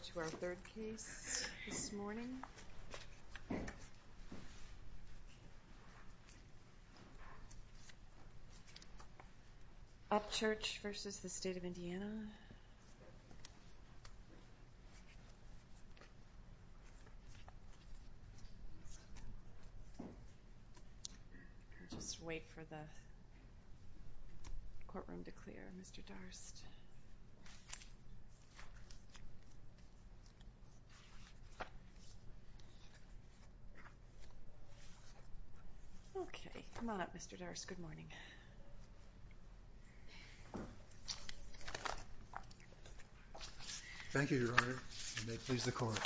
I'll just wait for the courtroom to clear, Mr. Darst. Okay. Come on up, Mr. Darst. Good morning. Thank you, Your Honor. You may please the court.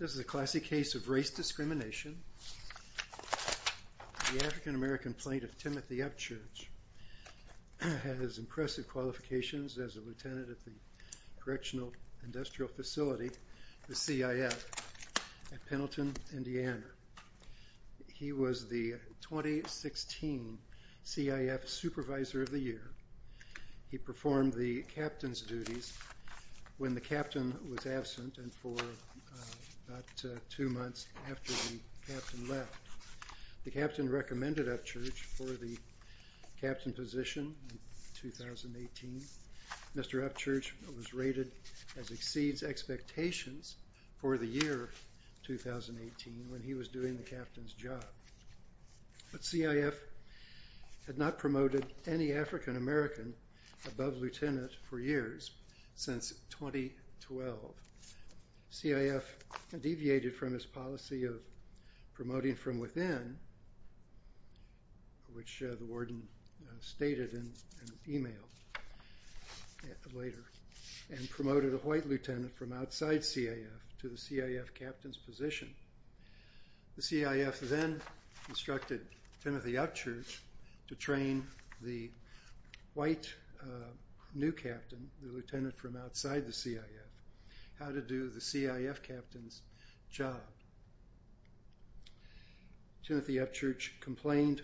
This is a classic case of race discrimination. The African American plaintiff, Timothy Upchurch, has impressive qualifications as a lieutenant at the Correctional Industrial Facility, the CIF, at Pendleton, Indiana. He was the 2016 CIF Supervisor of the Year. He performed the captain's duties when the captain was absent and for about two months after the captain left. The captain recommended Upchurch for the captain position in 2018. Mr. Upchurch was rated as exceeds expectations for the year 2018 when he was doing the captain's job. The CIF had not promoted any African American above lieutenant for years since 2012. CIF deviated from its policy of promoting from within, which the warden stated in an email later, and promoted a white lieutenant from outside CIF to the CIF captain's position. The CIF then instructed Timothy Upchurch to train the white new captain, the lieutenant from outside the CIF, how to do the CIF captain's job. Timothy Upchurch complained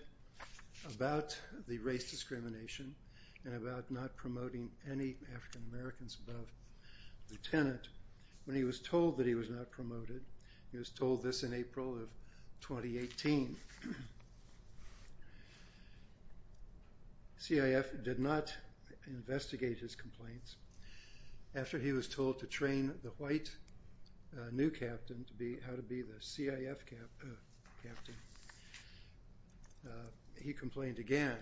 about the race discrimination and about not promoting any African Americans above lieutenant. When he was told that he was not promoted, he was told this in April of 2018, CIF did not investigate his complaints. After he was told to train the white new captain how to be the CIF captain, he complained again.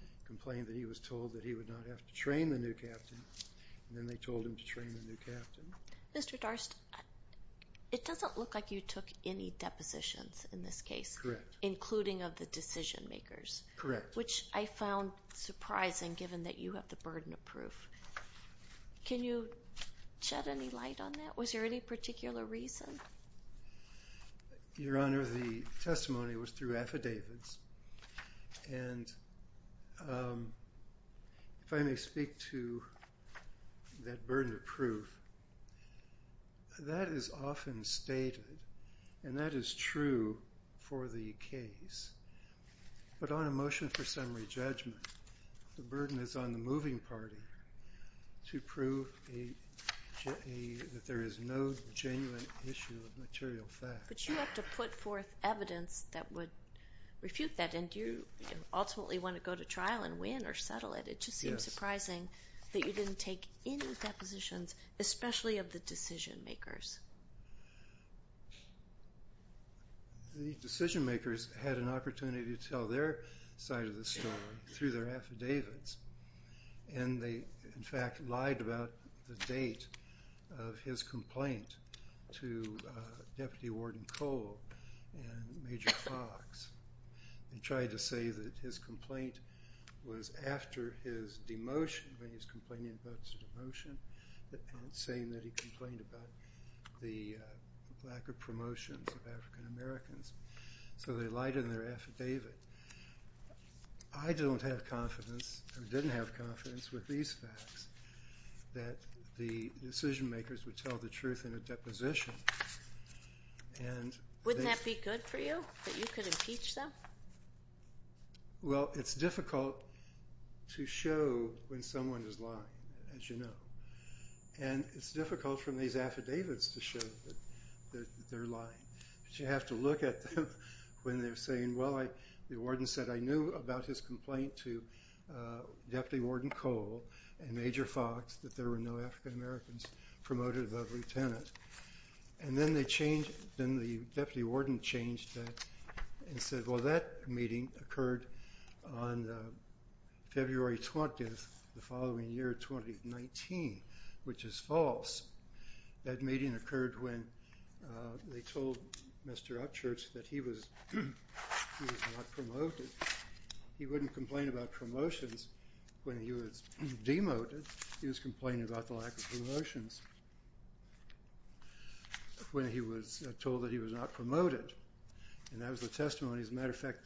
He complained that he was told that he would not have to train the new captain, and then they told him to train the new captain. Mr. Darst, it doesn't look like you took any depositions in this case. Correct. Including of the decision makers. Correct. Which I found surprising given that you have the burden of proof. Can you shed any light on that? Was there any particular reason? Your Honor, the testimony was through affidavits, and if I may speak to that burden of proof, that is often stated, and that is true for the case. But on a motion for summary judgment, the burden is on the moving party to prove that there is no genuine issue of material fact. But you have to put forth evidence that would refute that, and you ultimately want to go to trial and win or settle it. It just seems surprising that you didn't take any depositions, especially of the decision makers. The decision makers had an opportunity to tell their side of the story through their affidavits, and they, in fact, lied about the date of his complaint to Deputy Warden Cole and Major Fox, and tried to say that his complaint was after his demotion, when he was complaining about his demotion, and saying that he complained about the lack of promotions of African Americans. So they lied in their affidavit. I don't have confidence or didn't have confidence with these facts that the decision makers would tell the truth in a deposition. Wouldn't that be good for you, that you could impeach them? Well, it's difficult to show when someone is lying, as you know. And it's difficult from these affidavits to show that they're lying. But you have to look at them when they're saying, well, the warden said, I knew about his complaint to Deputy Warden Cole and Major Fox that there were no African Americans promoted above lieutenant. And then the deputy warden changed that and said, well, that meeting occurred on February 20th, the following year, 2019, which is false. That meeting occurred when they told Mr. Upchurch that he was not promoted. He wouldn't complain about promotions when he was demoted. He was complaining about the lack of promotions when he was told that he was not promoted. And that was the testimony. As a matter of fact,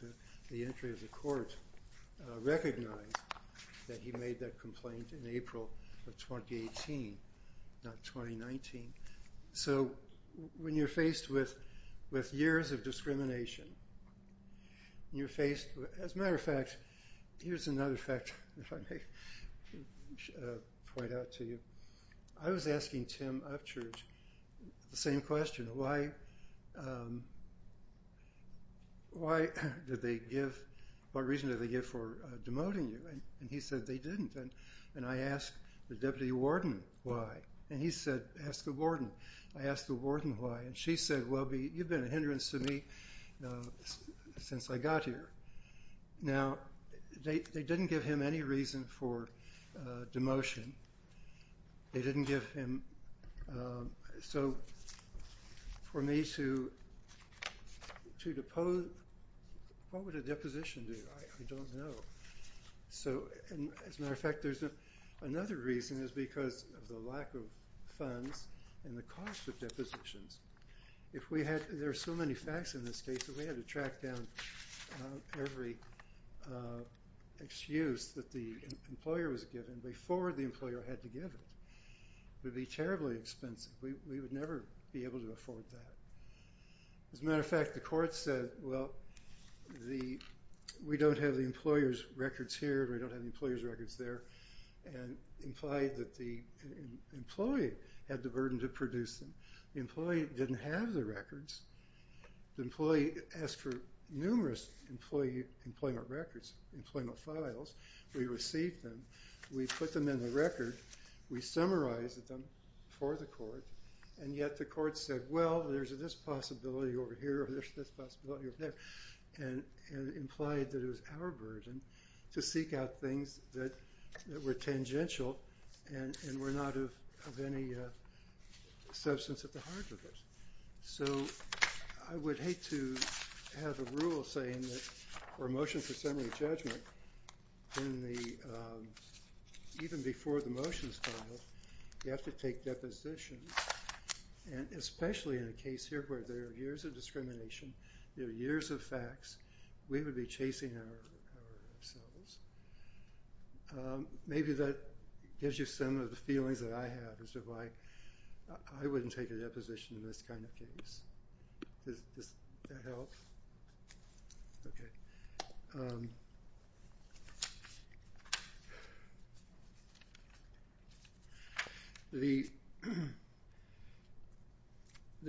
the entry of the court recognized that he made that complaint in April of 2018, not 2019. So when you're faced with years of discrimination, you're faced with, as a matter of fact, here's another fact, if I may point out to you. I was asking Tim Upchurch the same question. Why did they give, what reason did they give for demoting you? And he said they didn't. And I asked the deputy warden why. And he said, ask the warden. I asked the warden why. And she said, well, you've been a hindrance to me since I got here. Now, they didn't give him any reason for demotion. They didn't give him. So for me to depose, what would a deposition do? I don't know. So, as a matter of fact, there's another reason. It's because of the lack of funds and the cost of depositions. There are so many facts in this case that we had to track down every excuse that the employer was given before the employer had to give it. It would be terribly expensive. We would never be able to afford that. As a matter of fact, the court said, well, we don't have the employer's records here. We don't have the employer's records there. And implied that the employee had the burden to produce them. The employee didn't have the records. The employee asked for numerous employee employment records, employment files. We received them. We put them in the record. We summarized them for the court. And yet the court said, well, there's this possibility over here or there's this possibility over there. And implied that it was our burden to seek out things that were tangential and were not of any substance at the heart of it. So, I would hate to have a rule saying that for a motion for summary judgment, even before the motion is filed, you have to take depositions, and especially in a case here where there are years of discrimination, there are years of facts, we would be chasing ourselves. Maybe that gives you some of the feelings that I have as to why I wouldn't take a deposition in this kind of case. Does that help? Okay. The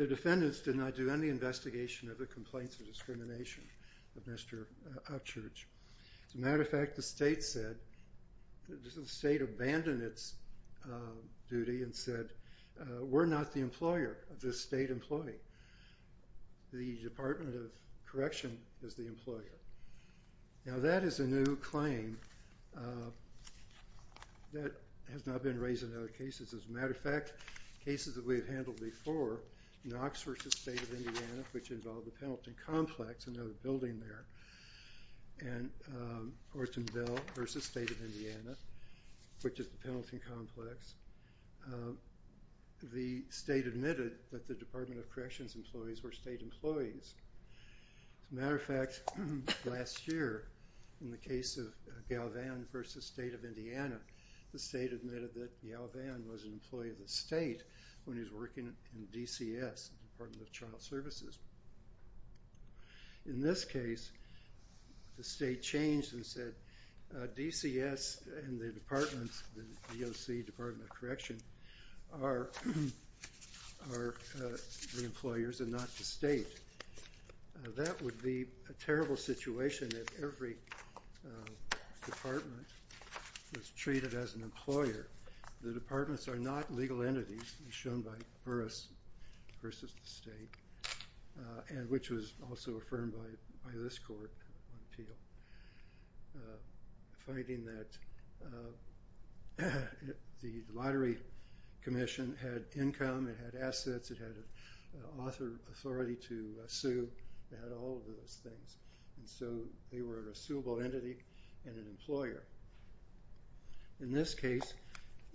defendants did not do any investigation of the complaints of discrimination of Mr. Uchurch. As a matter of fact, the state said, the state abandoned its duty and said, we're not the employer of this state employee. The Department of Correction is the employer. Now, that is a new claim that has not been raised in other cases. As a matter of fact, cases that we have handled before, Knox v. State of Indiana, which involved the Penalty Complex, another building there, and Ortonville v. State of Indiana, which is the Penalty Complex, the state admitted that the Department of Correction's employees were state employees. As a matter of fact, last year, in the case of Galvan v. State of Indiana, the state admitted that Galvan was an employee of the state when he was working in DCS, Department of Child Services. In this case, the state changed and said, DCS and the departments, the DOC, Department of Correction, are the employers and not the state. That would be a terrible situation if every department was treated as an employer. The departments are not legal entities, as shown by Burris v. State, and which was also affirmed by this court appeal, finding that the lottery commission had income, it had assets, it had authority to sue, it had all of those things. So they were a suable entity and an employer. In this case,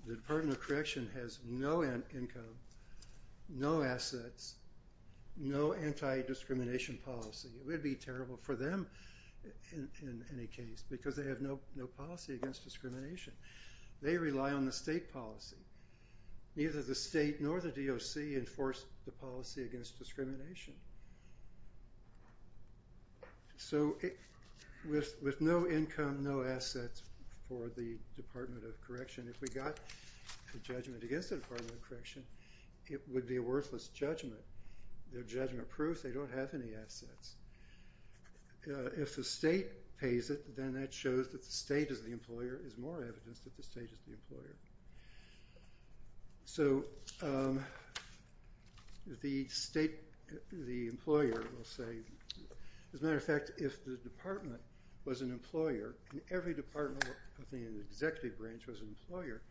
the Department of Correction has no income, no assets, no anti-discrimination policy. It would be terrible for them, in any case, because they have no policy against discrimination. They rely on the state policy. Neither the state nor the DOC enforce the policy against discrimination. So with no income, no assets for the Department of Correction, if we got a judgment against the Department of Correction, it would be a worthless judgment. They're judgment-proof, they don't have any assets. If the state pays it, then that shows that the state is the employer, is more evidence that the state is the employer. So the state, the employer will say, as a matter of fact, if the department was an employer, and every department within the executive branch was an employer,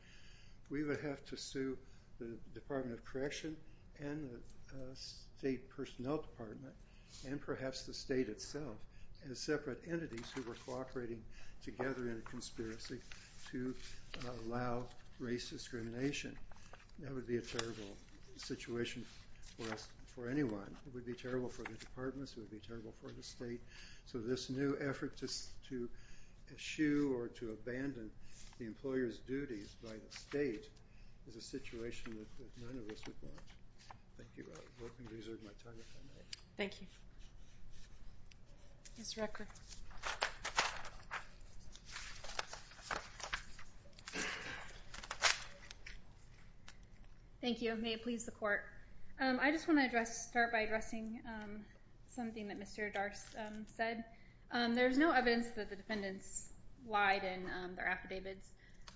we would have to sue the Department of Correction and the state personnel department and perhaps the state itself as separate entities who were cooperating together in a conspiracy to allow race discrimination. That would be a terrible situation for anyone. It would be terrible for the departments, it would be terrible for the state. So this new effort to eschew or to abandon the employer's duties by the state is a situation that none of us would want. Thank you. We're going to reserve my time if I may. Thank you. Mr. Rector. Thank you. May it please the Court. I just want to start by addressing something that Mr. Darst said. There's no evidence that the defendants lied in their affidavits,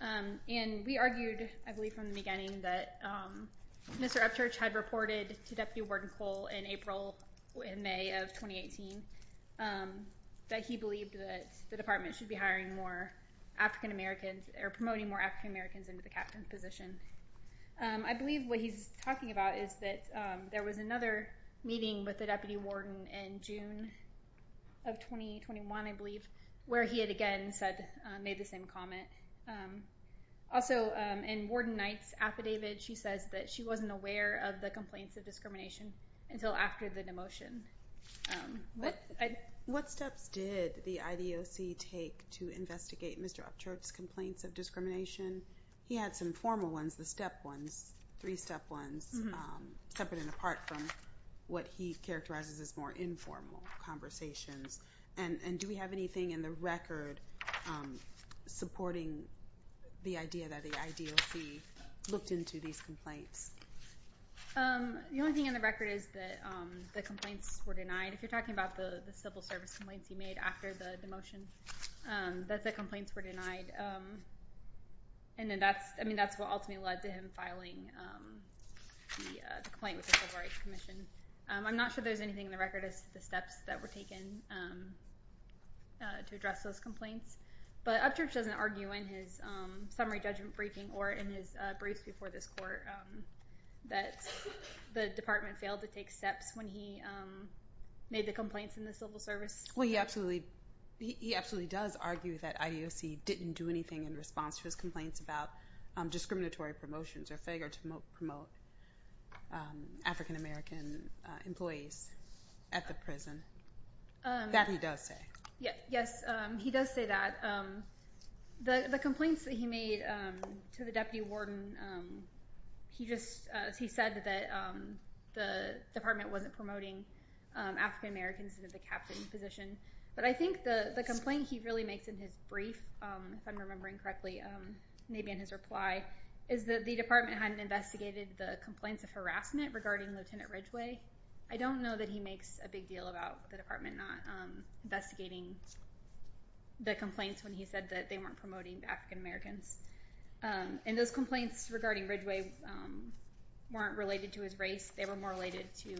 and we argued, I believe, from the beginning that Mr. Upchurch had reported to Deputy Warden Cole in April and May of 2018 that he believed that the department should be hiring more African Americans or promoting more African Americans into the captain's position. I believe what he's talking about is that there was another meeting with the deputy warden in June of 2021, I believe, where he had again made the same comment. Also, in Warden Knight's affidavit, she says that she wasn't aware of the complaints of discrimination until after the demotion. What steps did the IDOC take to investigate Mr. Upchurch's complaints of discrimination? He had some formal ones, the step ones, three-step ones, separate and apart from what he characterizes as more informal conversations. Do we have anything in the record supporting the idea that the IDOC looked into these complaints? The only thing in the record is that the complaints were denied. If you're talking about the civil service complaints he made after the demotion, that the complaints were denied. That's what ultimately led to him filing the complaint with the Civil Rights Commission. I'm not sure there's anything in the record as to the steps that were taken to address those complaints, but Upchurch doesn't argue in his summary judgment briefing or in his briefs before this court that the department failed to take steps when he made the complaints in the civil service. He absolutely does argue that IDOC didn't do anything in response to his complaints about discriminatory promotions or failure to promote African-American employees at the prison. That he does say. Yes, he does say that. The complaints that he made to the deputy warden, he said that the department wasn't promoting African-Americans into the captain position, but I think the complaint he really makes in his brief, if I'm remembering correctly, maybe in his reply, is that the department hadn't investigated the complaints of harassment regarding Lieutenant Ridgway. I don't know that he makes a big deal about the department not investigating the complaints when he said that they weren't promoting African-Americans. And those complaints regarding Ridgway weren't related to his race. They were more related to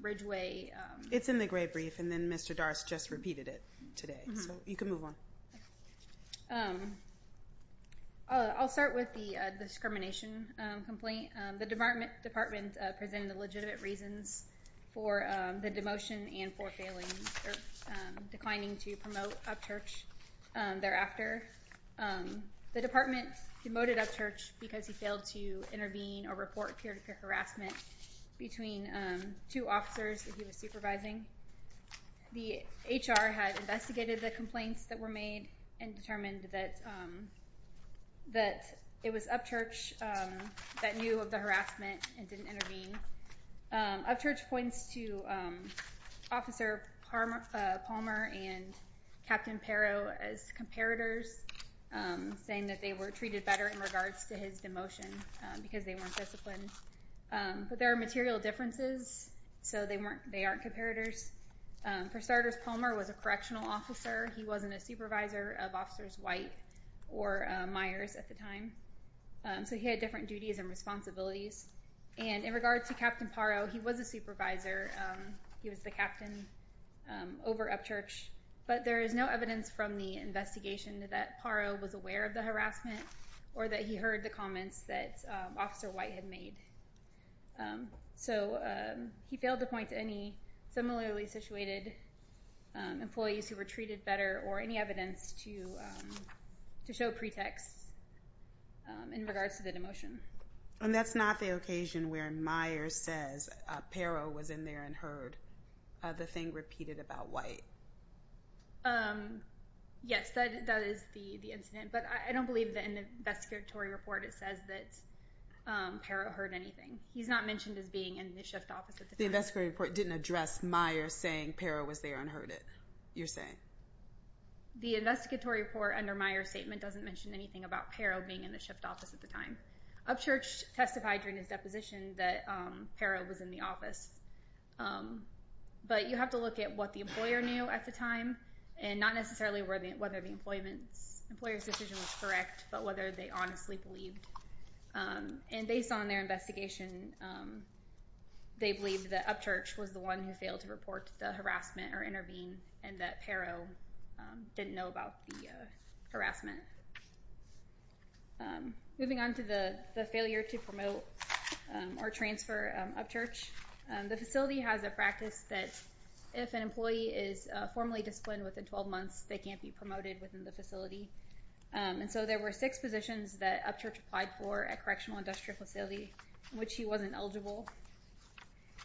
Ridgway. It's in the gray brief, and then Mr. Darst just repeated it today. So you can move on. I'll start with the discrimination complaint. The department presented legitimate reasons for the demotion and for declining to promote Upchurch thereafter. The department demoted Upchurch because he failed to intervene or report peer-to-peer harassment between two officers that he was supervising. The HR had investigated the complaints that were made and determined that it was Upchurch that knew of the harassment and didn't intervene. Upchurch points to Officer Palmer and Captain Pero as comparators, saying that they were treated better in regards to his demotion because they weren't disciplined. But there are material differences, so they aren't comparators. For starters, Palmer was a correctional officer. He wasn't a supervisor of Officers White or Myers at the time, so he had different duties and responsibilities. And in regards to Captain Pero, he was a supervisor. He was the captain over Upchurch. But there is no evidence from the investigation that Pero was aware of the harassment or that he heard the comments that Officer White had made. So he failed to point to any similarly situated employees who were treated better or any evidence to show pretext in regards to the demotion. And that's not the occasion where Myers says Pero was in there and heard the thing repeated about White. Yes, that is the incident, but I don't believe that in the investigatory report it says that Pero heard anything. He's not mentioned as being in the shift office at the time. The investigatory report didn't address Myers saying Pero was there and heard it, you're saying? The investigatory report under Myers' statement doesn't mention anything about Pero being in the shift office at the time. Upchurch testified during his deposition that Pero was in the office. But you have to look at what the employer knew at the time and not necessarily whether the employer's decision was correct but whether they honestly believed. And based on their investigation, they believe that Upchurch was the one who failed to report the harassment or intervene and that Pero didn't know about the harassment. Moving on to the failure to promote or transfer Upchurch, the facility has a practice that if an employee is formally disciplined within 12 months, they can't be promoted within the facility. And so there were six positions that Upchurch applied for at Correctional Industrial Facility, in which he wasn't eligible.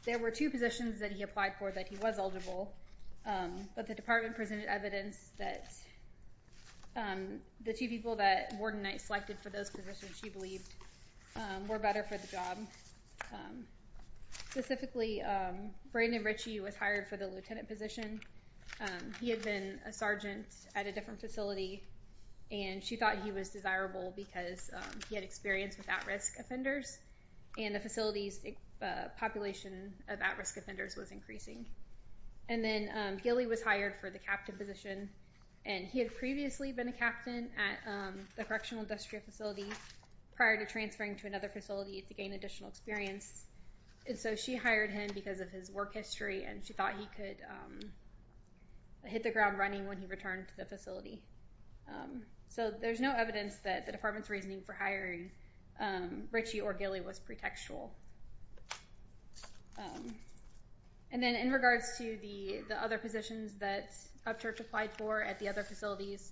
There were two positions that he applied for that he was eligible, but the department presented evidence that the two people that Warden Knight selected for those positions, she believed, were better for the job. Specifically, Brandon Ritchie was hired for the lieutenant position. He had been a sergeant at a different facility, and she thought he was desirable because he had experience with at-risk offenders, and the facility's population of at-risk offenders was increasing. And then Gilly was hired for the captain position, and he had previously been a captain at the Correctional Industrial Facility prior to transferring to another facility to gain additional experience. And so she hired him because of his work history, and she thought he could hit the ground running when he returned to the facility. So there's no evidence that the department's reasoning for hiring Ritchie or Gilly was pretextual. And then in regards to the other positions that Upchurch applied for at the other facilities,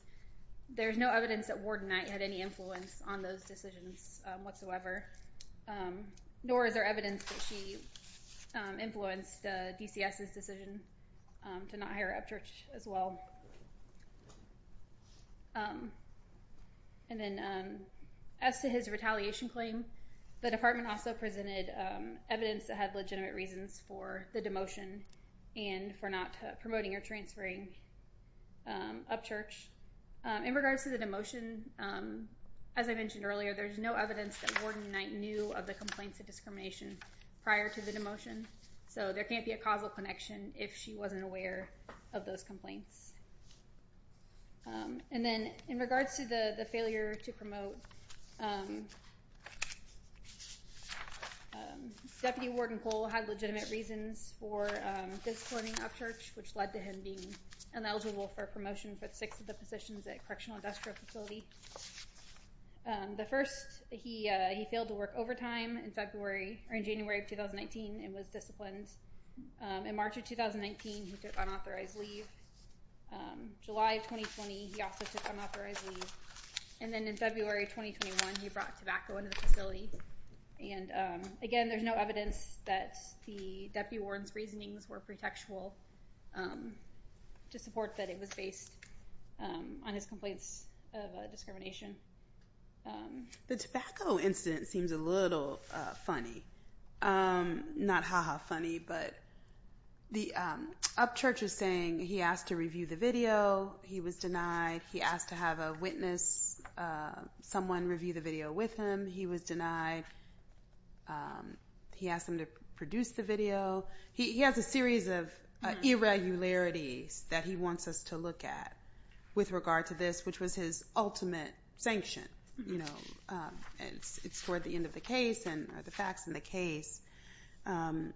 there's no evidence that Warden Knight had any influence on those decisions whatsoever, nor is there evidence that she influenced DCS's decision to not hire Upchurch as well. And then as to his retaliation claim, the department also presented evidence that had legitimate reasons for the demotion and for not promoting or transferring Upchurch. In regards to the demotion, as I mentioned earlier, there's no evidence that Warden Knight knew of the complaints of discrimination prior to the demotion, so there can't be a causal connection if she wasn't aware of those complaints. And then in regards to the failure to promote, Deputy Warden Cole had legitimate reasons for discourting Upchurch, which led to him being ineligible for promotion for six of the positions at Correctional Industrial Facility. The first, he failed to work overtime in January of 2019 and was disciplined. In March of 2019, he took unauthorized leave. July of 2020, he also took unauthorized leave. And then in February of 2021, he brought tobacco into the facility. And again, there's no evidence that Deputy Warden's reasonings were pretextual to support that it was based on his complaints of discrimination. The tobacco incident seems a little funny. Not ha-ha funny, but Upchurch is saying he asked to review the video. He was denied. He asked to have a witness, someone review the video with him. He was denied. He asked them to produce the video. He has a series of irregularities that he wants us to look at with regard to this, which was his ultimate sanction. You know, it's toward the end of the case and the facts in the case. And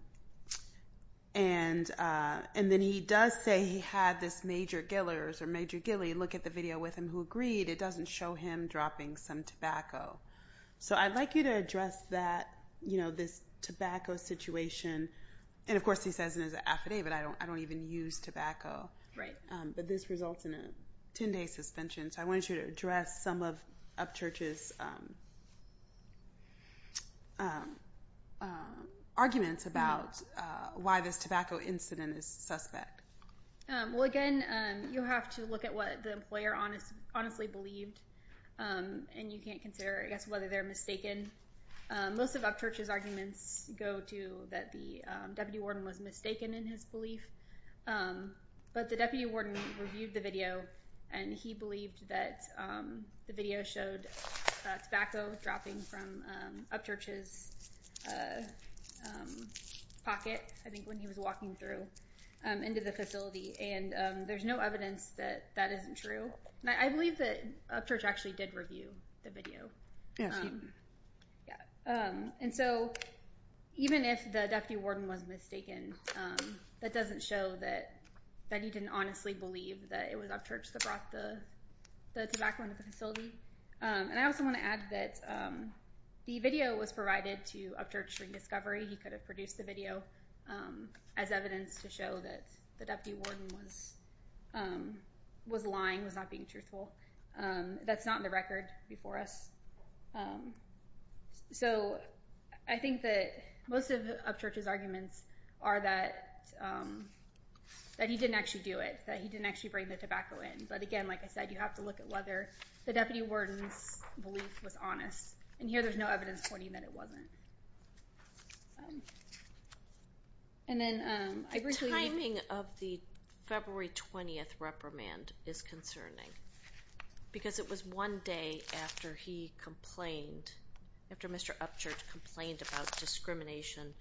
then he does say he had this major gillers or major gilly look at the video with him who agreed. It doesn't show him dropping some tobacco. So I'd like you to address that, you know, this tobacco situation. And of course, he says in his affidavit, I don't even use tobacco. But this results in a 10-day suspension. So I want you to address some of Upchurch's arguments about why this tobacco incident is suspect. Well, again, you have to look at what the employer honestly believed. And you can't consider, I guess, whether they're mistaken. Most of Upchurch's arguments go to that the deputy warden was mistaken in his belief. But the deputy warden reviewed the video. And he believed that the video showed tobacco dropping from Upchurch's pocket, I think, when he was walking through into the facility. And there's no evidence that that isn't true. And I believe that Upchurch actually did review the video. And so even if the deputy warden was mistaken, that doesn't show that he didn't honestly believe that it was Upchurch that brought the tobacco into the facility. And I also want to add that the video was provided to Upchurch during discovery. He could have produced the video as evidence to show that the deputy warden was lying, was not being truthful. That's not in the record before us. So I think that most of Upchurch's arguments are that he didn't actually do it, that he didn't actually bring the tobacco in. But again, like I said, you have to look at whether the deputy warden's belief was honest. And here there's no evidence pointing that it wasn't. The timing of the February 20th reprimand is concerning. Because it was one day after he complained, after Mr. Upchurch complained about discrimination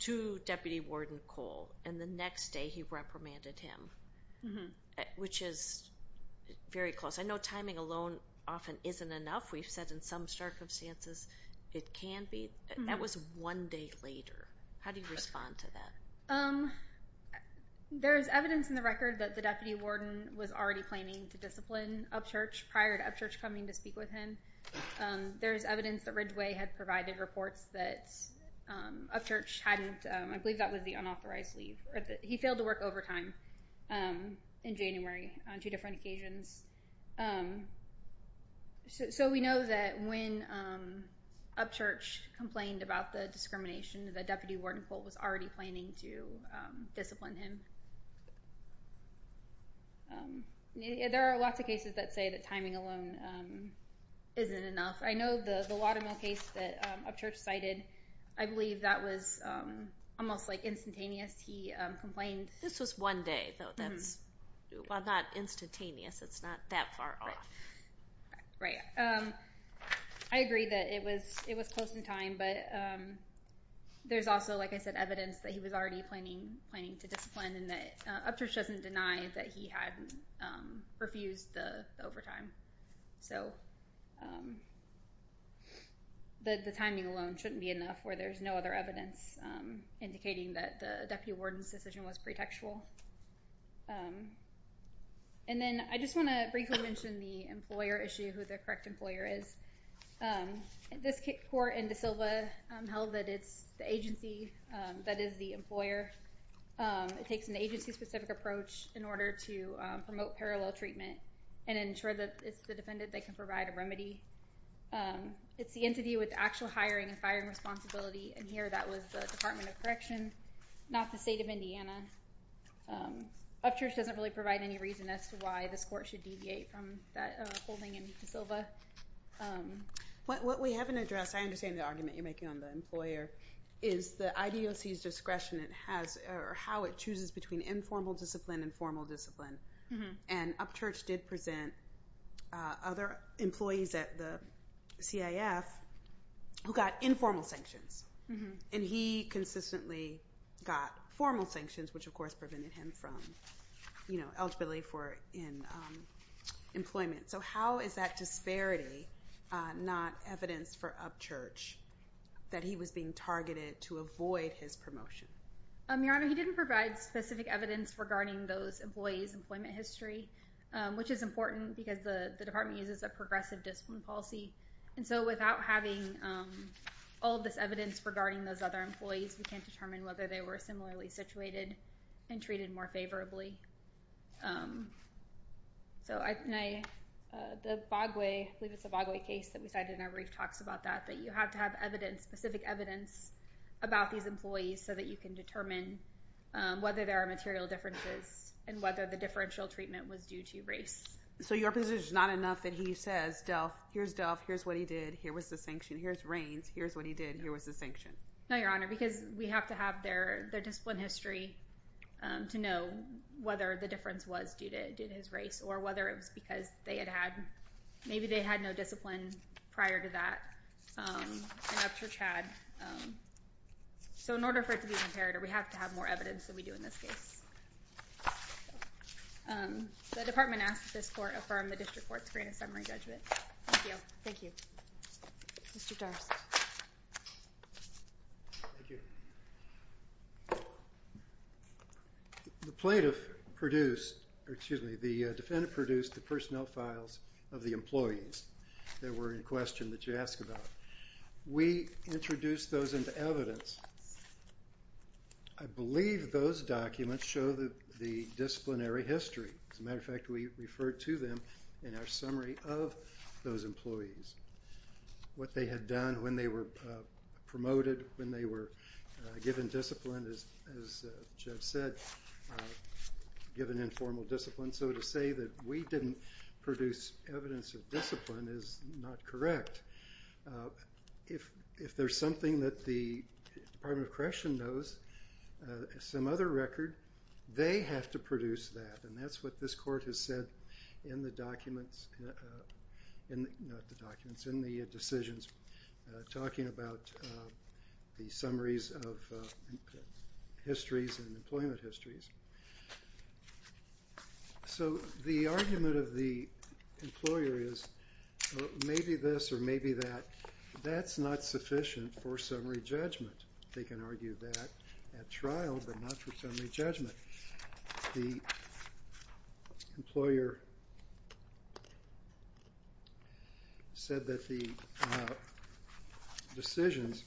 to Deputy Warden Cole. And the next day he reprimanded him, which is very close. I know timing alone often isn't enough. We've said in some circumstances it can be. That was one day later. How do you respond to that? There's evidence in the record that the deputy warden was already planning to discipline Upchurch prior to Upchurch coming to speak with him. There's evidence that Ridgway had provided reports that Upchurch hadn't, I believe that was the unauthorized leave. He failed to work overtime in January on two different occasions. So we know that when Upchurch complained about the discrimination, that Deputy Warden Cole was already planning to discipline him. There are lots of cases that say that timing alone isn't enough. I know the Watermill case that Upchurch cited, I believe that was almost instantaneous. This was one day, though. Well, not instantaneous. It's not that far off. Right. I agree that it was close in time. But there's also, like I said, evidence that he was already planning to discipline and that Upchurch doesn't deny that he had refused the overtime. So the timing alone shouldn't be enough where there's no other evidence indicating that the deputy warden's decision was pretextual. And then I just want to briefly mention the employer issue, who the correct employer is. This court in De Silva held that it's the agency that is the employer. It takes an agency-specific approach in order to promote parallel treatment and ensure that it's the defendant that can provide a remedy. It's the entity with the actual hiring and firing responsibility. And here, that was the Department of Correction, not the state of Indiana. Upchurch doesn't really provide any reason as to why this court should deviate from that holding in De Silva. What we haven't addressed, I understand the argument you're making on the employer, is the IDOC's discretion, or how it chooses between informal discipline and formal discipline. And Upchurch did present other employees at the CIF who got informal sanctions. And he consistently got formal sanctions, which, of course, prevented him from eligibility for employment. So how is that disparity not evidence for Upchurch that he was being targeted to avoid his promotion? Your Honor, he didn't provide specific evidence regarding those employees' employment history, which is important because the department uses a progressive discipline policy. And so without having all of this evidence regarding those other employees, we can't determine whether they were similarly situated and treated more favorably. So the Bogway case that we cited in our brief talks about that, that you have to have specific evidence about these employees so that you can determine whether there are material differences and whether the differential treatment was due to race. So your position is not enough that he says, Delph, here's Delph, here's what he did, here was the sanction, here's Raines, here's what he did, here was the sanction? No, Your Honor, because we have to have their discipline history to know whether the difference was due to his race or whether it was because maybe they had no discipline prior to that in Upchurch had. So in order for it to be compared, we have to have more evidence than we do in this case. The department asks that this court affirm the district court's screen and summary judgment. Thank you. Thank you. Mr. Darcy. Thank you. The plaintiff produced, or excuse me, the defendant produced the personnel files of the employees that were in question that you asked about. We introduced those into evidence. I believe those documents show the disciplinary history. As a matter of fact, we referred to them in our summary of those employees, what they had done, when they were promoted, when they were given discipline, as Jeff said, given informal discipline. So to say that we didn't produce evidence of discipline is not correct. If there's something that the Department of Correction knows, some other record, they have to produce that. And that's what this court has said in the decisions talking about the summaries of histories and employment histories. So the argument of the employer is maybe this or maybe that. That's not sufficient for summary judgment. They can argue that at trial, but not for summary judgment. The employer said that the decisions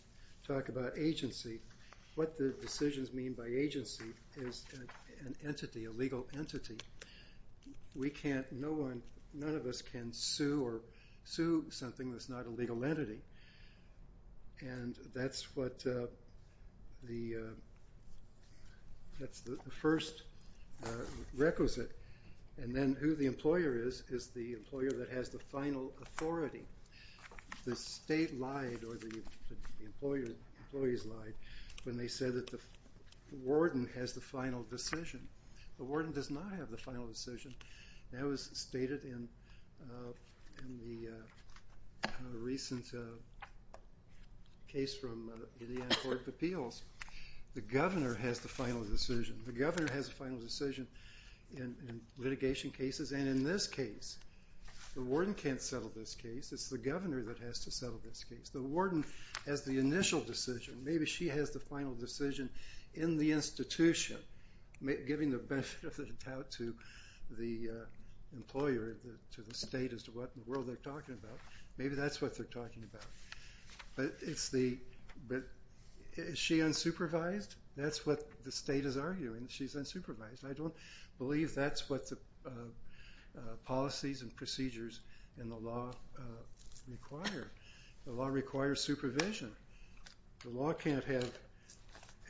talk about agency. What the decisions mean by agency is an entity, a legal entity. We can't, no one, none of us can sue or sue something that's not a legal entity. And that's the first requisite. And then who the employer is is the employer that has the final authority. The state lied or the employees lied when they said that the warden has the final decision. The warden does not have the final decision. That was stated in the recent case from Indiana Court of Appeals. The governor has the final decision. The governor has the final decision in litigation cases. And in this case, the warden can't settle this case. It's the governor that has to settle this case. The warden has the initial decision. Maybe she has the final decision in the institution, giving the benefit of the doubt to the employer, to the state as to what in the world they're talking about. Maybe that's what they're talking about. But is she unsupervised? That's what the state is arguing. She's unsupervised. I don't believe that's what the policies and procedures in the law require. The law requires supervision. The law can't have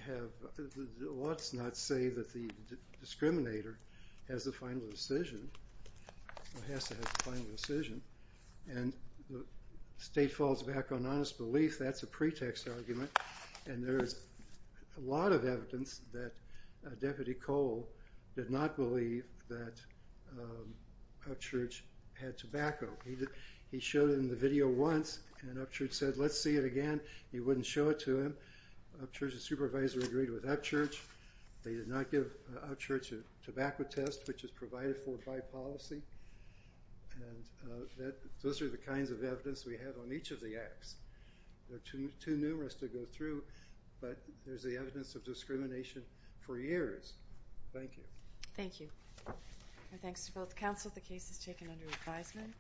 the laws not say that the discriminator has the final decision, or has to have the final decision. And the state falls back on honest belief. That's a pretext argument. And there is a lot of evidence that Deputy Cole did not believe that Upchurch had tobacco. He showed it in the video once, and Upchurch said, let's see it again. He wouldn't show it to him. Upchurch's supervisor agreed with Upchurch. They did not give Upchurch a tobacco test, which is provided for by policy. And those are the kinds of evidence we have on each of the acts. They're too numerous to go through, but there's the evidence of discrimination for years. Thank you. Thank you. Our thanks to both counsel. The case is taken under advisement.